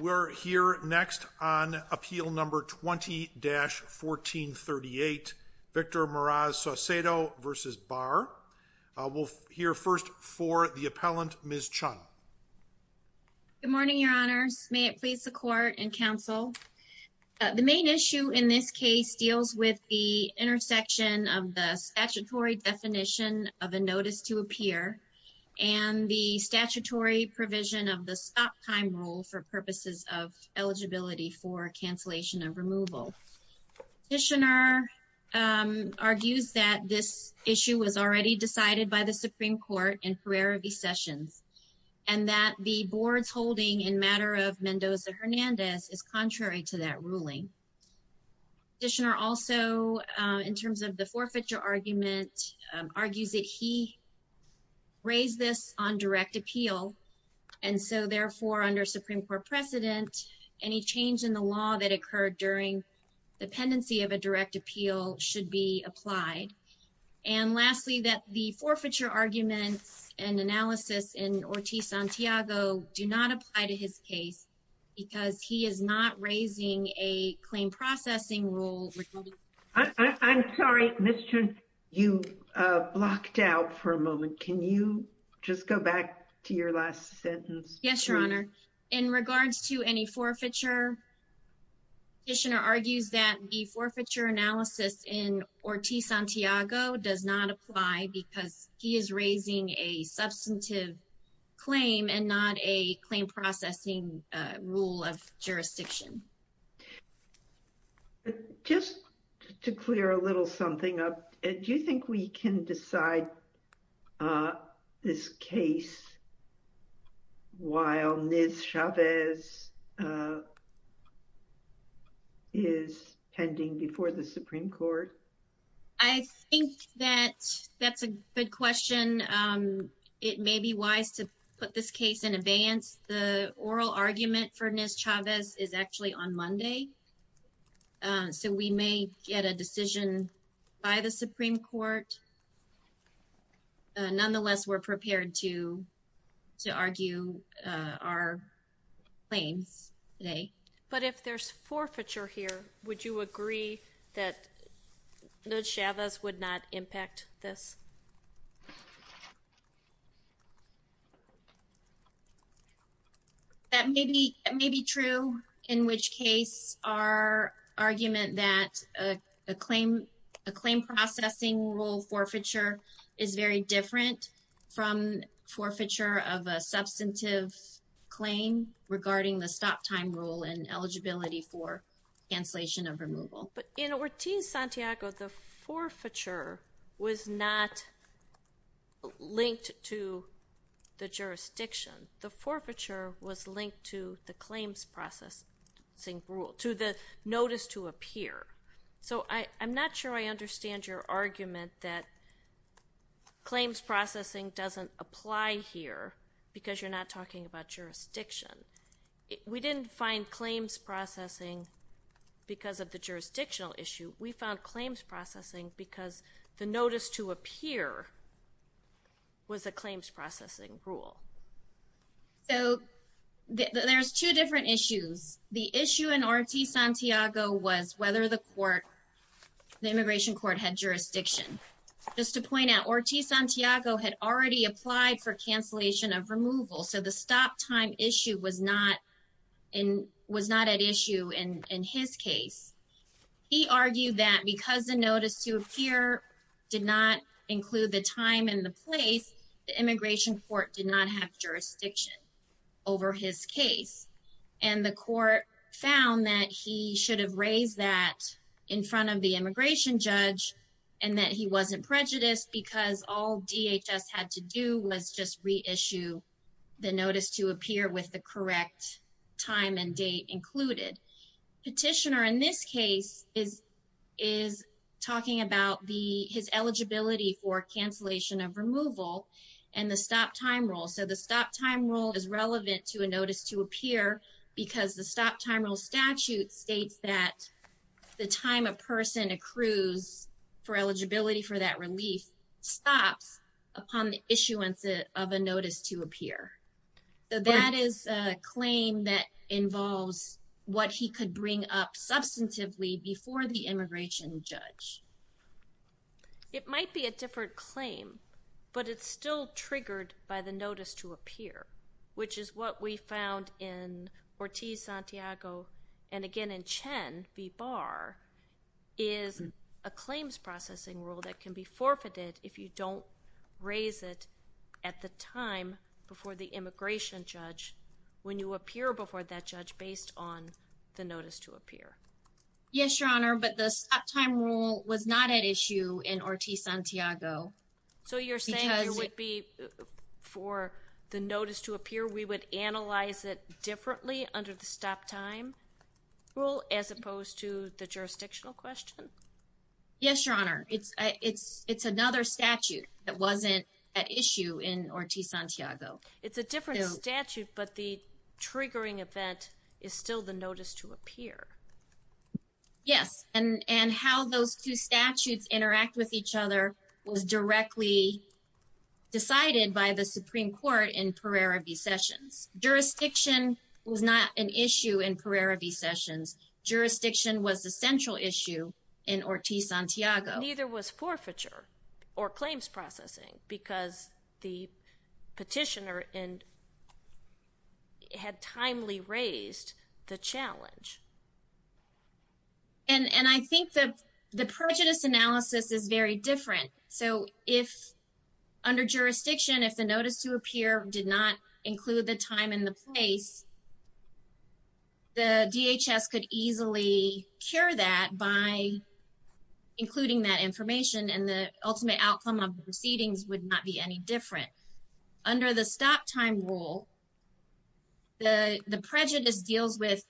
We're here next on Appeal No. 20-1438, Victor Meraz-Saucedo v. Barr. We'll hear first for the appellant, Ms. Chun. Good morning, Your Honors. May it please the Court and Counsel. The main issue in this case deals with the intersection of the statutory definition of a notice to appear and the statutory provision of the stop time rule for purposes of eligibility for cancellation of removal. Petitioner argues that this issue was already decided by the Supreme Court in Pereira v. Sessions and that the board's holding in matter of Mendoza-Hernandez is contrary to that ruling. Petitioner also, in terms of the forfeiture argument, argues that he raised this on direct appeal and so therefore under Supreme Court precedent, any change in the law that occurred during dependency of a direct appeal should be applied. And lastly, that the forfeiture arguments and analysis in Ortiz-Santiago do not apply to his case because he is not raising a claim processing rule. I'm sorry, Ms. Chun. You blocked out for a moment. Can you just go back to your last sentence? Yes, Your Honor. In regards to any forfeiture, petitioner argues that the forfeiture analysis in Ortiz-Santiago does not apply because he is raising a substantive claim and not a claim processing rule of jurisdiction. Just to clear a little something up, do you think we can decide this case while Ms. Chavez is pending before the Supreme Court? I think that that's a good question. It may be wise to put this case in advance. The oral argument for Ms. Chavez is actually on Monday, so we may get a decision by the Supreme Court. Nonetheless, we're prepared to argue our claims today. But if there's forfeiture here, would you agree that Ms. Chavez would not impact this? That may be true, in which case our argument that a claim processing rule forfeiture is very different from forfeiture of a substantive claim regarding the stop time rule and eligibility for cancellation of removal. But in Ortiz-Santiago, the forfeiture was not linked to the jurisdiction. The forfeiture was linked to the claims processing rule, to the notice to appear. I'm not sure I understand your argument that claims processing doesn't apply here because you're not talking about jurisdiction. We didn't find claims processing because of the jurisdictional issue. We found claims processing because the notice to appear was a claims processing rule. There's two different issues. The issue in Ortiz-Santiago was whether the immigration court had jurisdiction. Just to point out, Ortiz-Santiago had already applied for cancellation of removal, so the stop time issue was not at issue in his case. He argued that because the notice to appear did not include the time and the place, the immigration court did not have jurisdiction over his case. And the court found that he should have raised that in front of the immigration judge and that he wasn't prejudiced because all DHS had to do was just reissue the notice to appear with the correct time and date included. Petitioner in this case is talking about his eligibility for cancellation of removal and the stop time rule. So the stop time rule is relevant to a notice to appear because the stop time rule statute states that the time a person accrues for eligibility for that relief stops upon the issuance of a notice to appear. So that is a claim that involves what he could bring up substantively before the immigration judge. It might be a different claim, but it's still triggered by the notice to appear, which is what we found in Ortiz-Santiago and again in Chen v. Barr is a claims processing rule that can be forfeited if you don't raise it at the time before the immigration judge when you appear before that judge based on the notice to appear. Yes, Your Honor, but the stop time rule was not at issue in Ortiz-Santiago. So you're saying there would be for the notice to appear we would analyze it differently under the stop time rule as opposed to the jurisdictional question? Yes, Your Honor. It's another statute that wasn't at issue in Ortiz-Santiago. It's a different statute, but the triggering event is still the notice to appear. Yes, and how those two statutes interact with each other was directly decided by the Supreme Court in Pereira v. Sessions. Jurisdiction was not an issue in Pereira v. Sessions. Jurisdiction was the central issue in Ortiz-Santiago. Neither was forfeiture or claims processing because the petitioner had timely raised the challenge. And I think the prejudice analysis is very different. So if under jurisdiction if the notice to appear did not include the time and the place, the DHS could easily cure that by including that information and the ultimate outcome of the proceedings would not be any different. Under the stop time rule, the prejudice deals with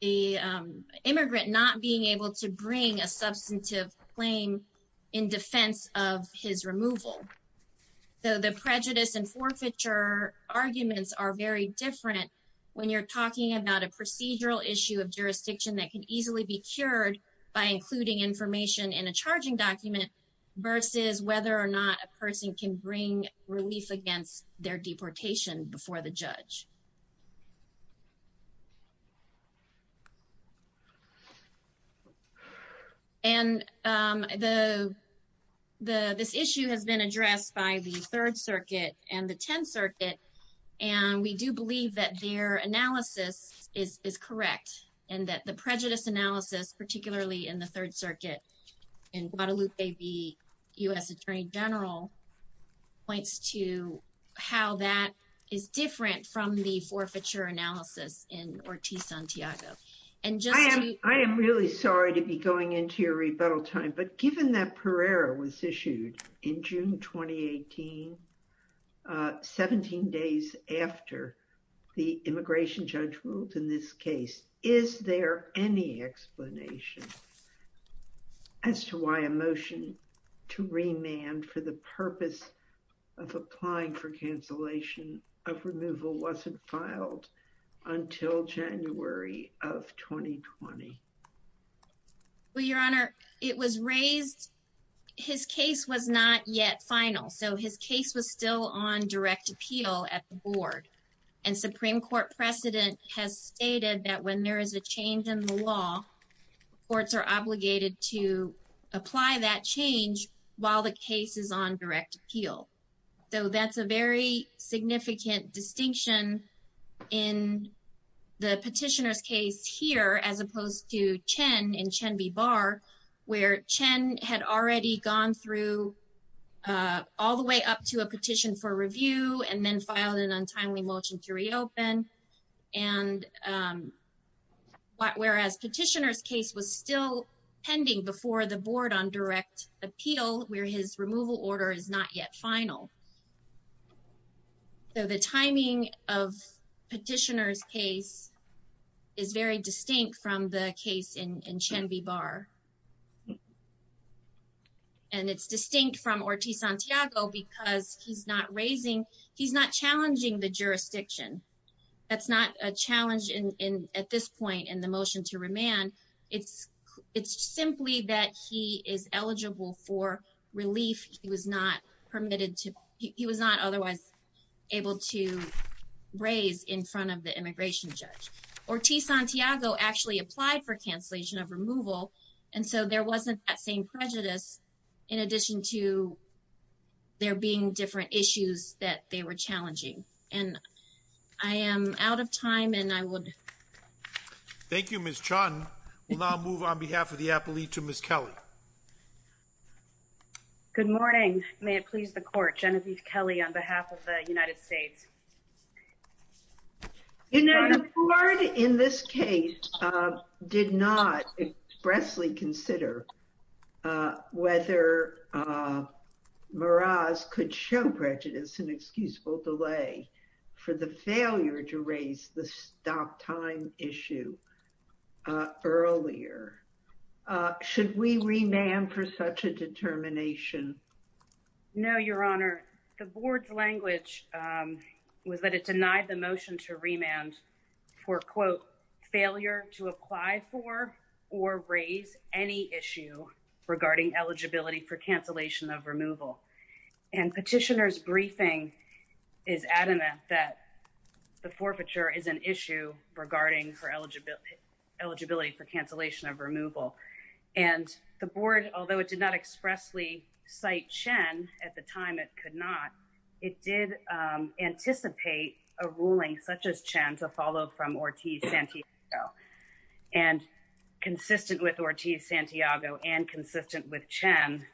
the immigrant not being able to bring a substantive claim in defense of his removal. So the prejudice and forfeiture arguments are very different when you're talking about a procedural issue of jurisdiction that can easily be cured by including information in a charging document versus whether or not a person can bring relief against their deportation before the judge. And this issue has been addressed by the Third Circuit and the Tenth Circuit and we do believe that their analysis is correct and that the prejudice analysis, particularly in the Third Circuit, in Guadalupe v. U.S. Attorney General, points to how that is different from the forfeiture analysis in Ortiz-Santiago. I am really sorry to be going into your rebuttal time, but given that Pereira was issued in June 2018, 17 days after the immigration judge ruled in this case, is there any explanation as to why a motion to remand for the purpose of applying for cancellation of removal wasn't filed until January of 2020? Well, Your Honor, it was raised, his case was not yet final, so his case was still on direct appeal at the board and Supreme Court precedent has stated that when there is a change in the law, courts are obligated to apply that change while the case is on direct appeal. So that's a very significant distinction in the petitioner's case here as opposed to Chen in Chen v. Barr, where Chen had already gone through all the way up to a petition for review and then filed an untimely motion to reopen. And whereas petitioner's case was still pending before the board on direct appeal, where his removal order is not yet final. So the timing of petitioner's case is very distinct from the case in Chen v. Barr. And it's distinct from Ortiz-Santiago because he's not raising, he's not challenging the jurisdiction. That's not a challenge at this point in the motion to remand. It's simply that he is eligible for relief. He was not permitted to, he was not otherwise able to raise in front of the immigration judge. Ortiz-Santiago actually applied for cancellation of removal. And so there wasn't that same prejudice in addition to there being different issues that they were challenging. And I am out of time and I would. Thank you, Ms. Chen. We'll now move on behalf of the appellee to Ms. Kelly. Good morning. May it please the court, Genevieve Kelly on behalf of the United States. You know, the board in this case did not expressly consider whether Meraz could show prejudice and excusable delay for the failure to raise the stop time issue earlier. Should we remand for such a determination? No, Your Honor. The board's language was that it denied the motion to remand for, quote, failure to apply for or raise any issue regarding eligibility for cancellation of removal. And petitioners briefing is adamant that the forfeiture is an issue regarding for eligibility, eligibility for cancellation of removal. And the board, although it did not expressly cite Chen at the time, it could not. It did anticipate a ruling such as Chen to follow from Ortiz-Santiago and consistent with Ortiz-Santiago and consistent with Chen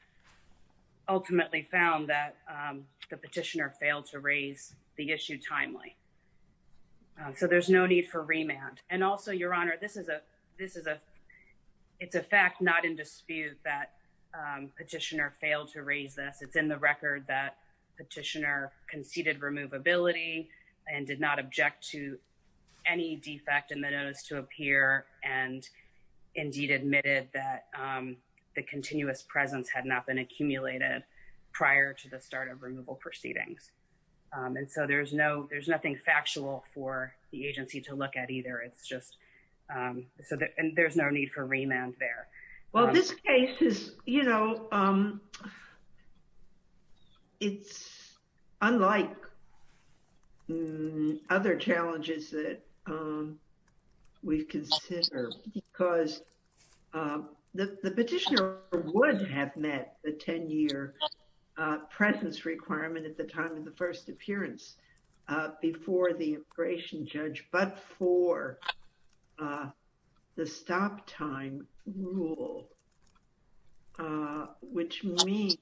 ultimately found that the petitioner failed to raise the issue timely. So there's no need for remand. And also, Your Honor, this is a, this is a, it's a fact not in dispute that petitioner failed to raise this. It's in the record that petitioner conceded removability and did not object to any defect in the notice to appear and indeed admitted that the continuous presence had not been accumulated prior to the start of removal proceedings. And so there's no, there's nothing factual for the agency to look at either. It's just so there's no need for remand there. Well, this case is, you know, it's unlike other challenges that we've considered because the petitioner would have met the 10 year presence requirement at the time of the first appearance before the immigration judge. But for the stop time rule, which means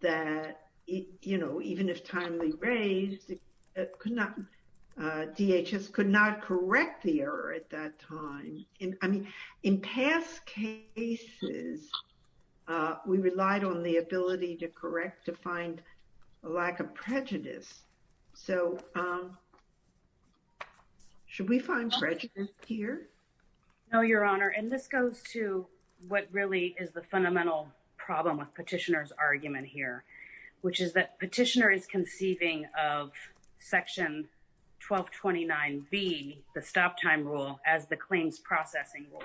that, you know, even if timely raised, DHS could not correct the error at that time. I mean, in past cases, we relied on the ability to correct to find lack of prejudice. So should we find prejudice here? No, Your Honor. And this goes to what really is the fundamental problem with petitioner's argument here, which is that petitioner is conceiving of section 1229B, the stop time rule as the claims processing rule.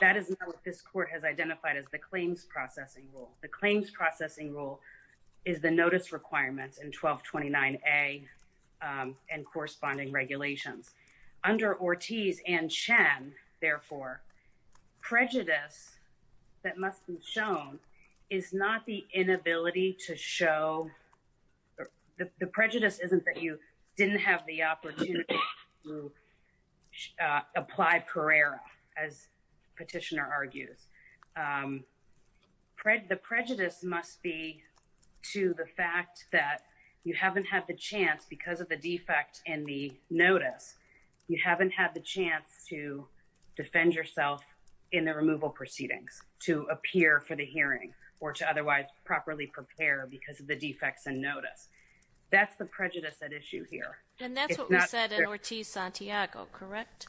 That is not what this court has identified as the claims processing rule. The claims processing rule is the notice requirements in 1229A and corresponding regulations. Under Ortiz and Chen, therefore, prejudice that must be shown is not the inability to show, the prejudice isn't that you didn't have the opportunity to apply Carrera, as petitioner argues. The prejudice must be to the fact that you haven't had the chance because of the defect in the notice, you haven't had the chance to defend yourself in the removal proceedings to appear for the hearing or to otherwise properly prepare because of the defects in notice. That's the prejudice at issue here. And that's what we said in Ortiz-Santiago, correct?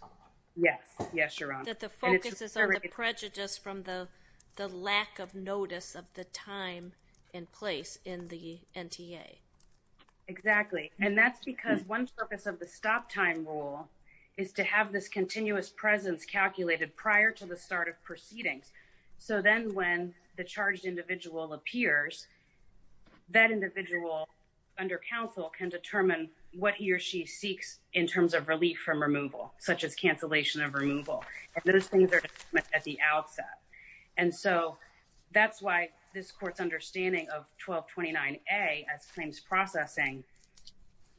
Yes. Yes, Your Honor. That the focus is on the prejudice from the lack of notice of the time and place in the NTA. Exactly. And that's because one purpose of the stop time rule is to have this continuous presence calculated prior to the start of proceedings. So then when the charged individual appears, that individual under counsel can determine what he or she seeks in terms of relief from removal, such as cancellation of removal. And those things are at the outset. And so that's why this court's understanding of 1229A as claims processing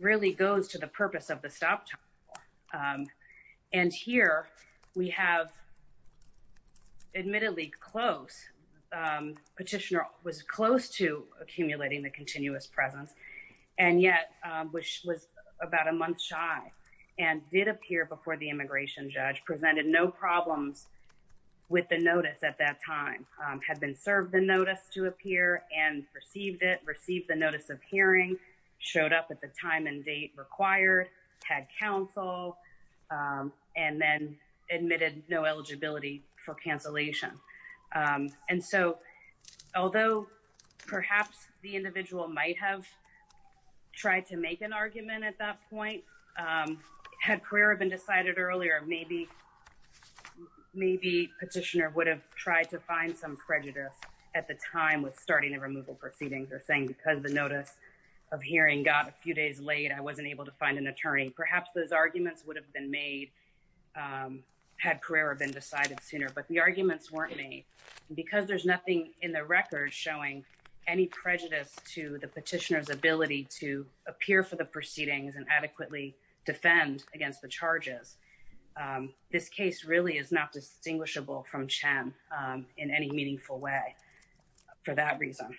really goes to the purpose of the stop time rule. And here we have admittedly close. Petitioner was close to accumulating the continuous presence and yet was about a month shy and did appear before the immigration judge. Presented no problems with the notice at that time. Had been served the notice to appear and received it, received the notice of hearing. Showed up at the time and date required. Had counsel. And then admitted no eligibility for cancellation. And so although perhaps the individual might have tried to make an argument at that point, had career been decided earlier, maybe petitioner would have tried to find some prejudice at the time with starting a removal proceeding. Or saying because the notice of hearing got a few days late, I wasn't able to find an attorney. Perhaps those arguments would have been made had career been decided sooner. But the arguments weren't made. Because there's nothing in the record showing any prejudice to the petitioner's ability to appear for the proceedings and adequately defend against the charges. This case really is not distinguishable from CHEM in any meaningful way. For that reason.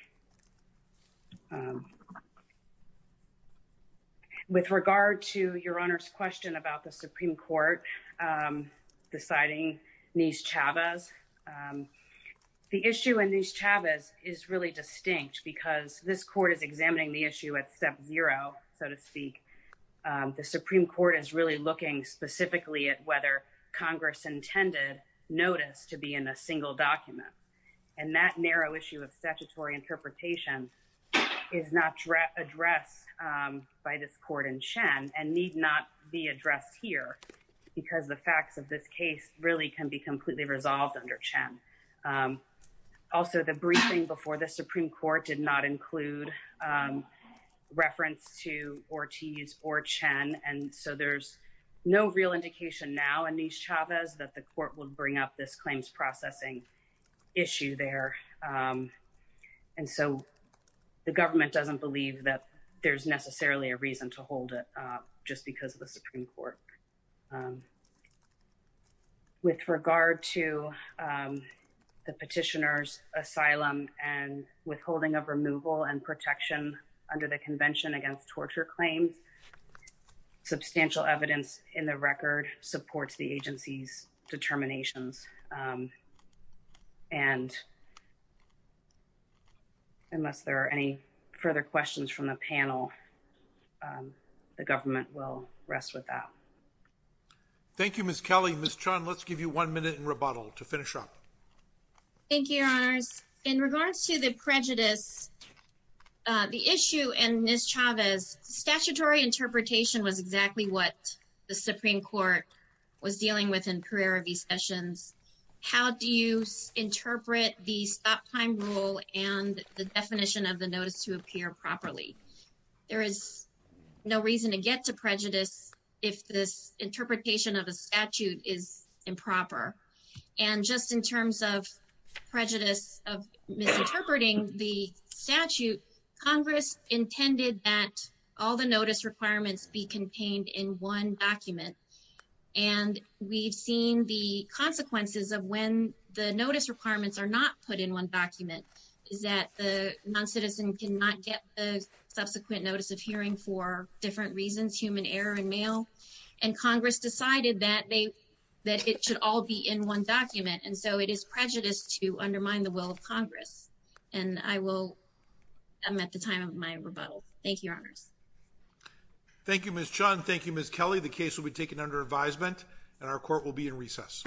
With regard to your Honor's question about the Supreme Court deciding Nies Chavez. The issue in Nies Chavez is really distinct because this court is examining the issue at step zero, so to speak. The Supreme Court is really looking specifically at whether Congress intended notice to be in a single document. And that narrow issue of statutory interpretation is not addressed by this court in CHEM and need not be addressed here. Because the facts of this case really can be completely resolved under CHEM. Also, the briefing before the Supreme Court did not include reference to Ortiz or CHEM. And so there's no real indication now in Nies Chavez that the court would bring up this claims processing issue there. And so the government doesn't believe that there's necessarily a reason to hold it just because of the Supreme Court. With regard to the petitioner's asylum and withholding of removal and protection under the Convention against Torture Claims. Substantial evidence in the record supports the agency's determinations. And unless there are any further questions from the panel, the government will rest with that. Thank you, Ms. Kelly. Ms. Chun, let's give you one minute in rebuttal to finish up. In regards to the prejudice, the issue in Nies Chavez, statutory interpretation was exactly what the Supreme Court was dealing with in Pereira v. Sessions. How do you interpret the stop time rule and the definition of the notice to appear properly? There is no reason to get to prejudice if this interpretation of a statute is improper. And just in terms of prejudice of misinterpreting the statute, Congress intended that all the notice requirements be contained in one document. And we've seen the consequences of when the notice requirements are not put in one document. Is that the non-citizen cannot get the subsequent notice of hearing for different reasons, human error and mail. And Congress decided that it should all be in one document. And so it is prejudice to undermine the will of Congress. And I'm at the time of my rebuttal. Thank you, Your Honors. Thank you, Ms. Chun. Thank you, Ms. Kelly. The case will be taken under advisement and our court will be in recess.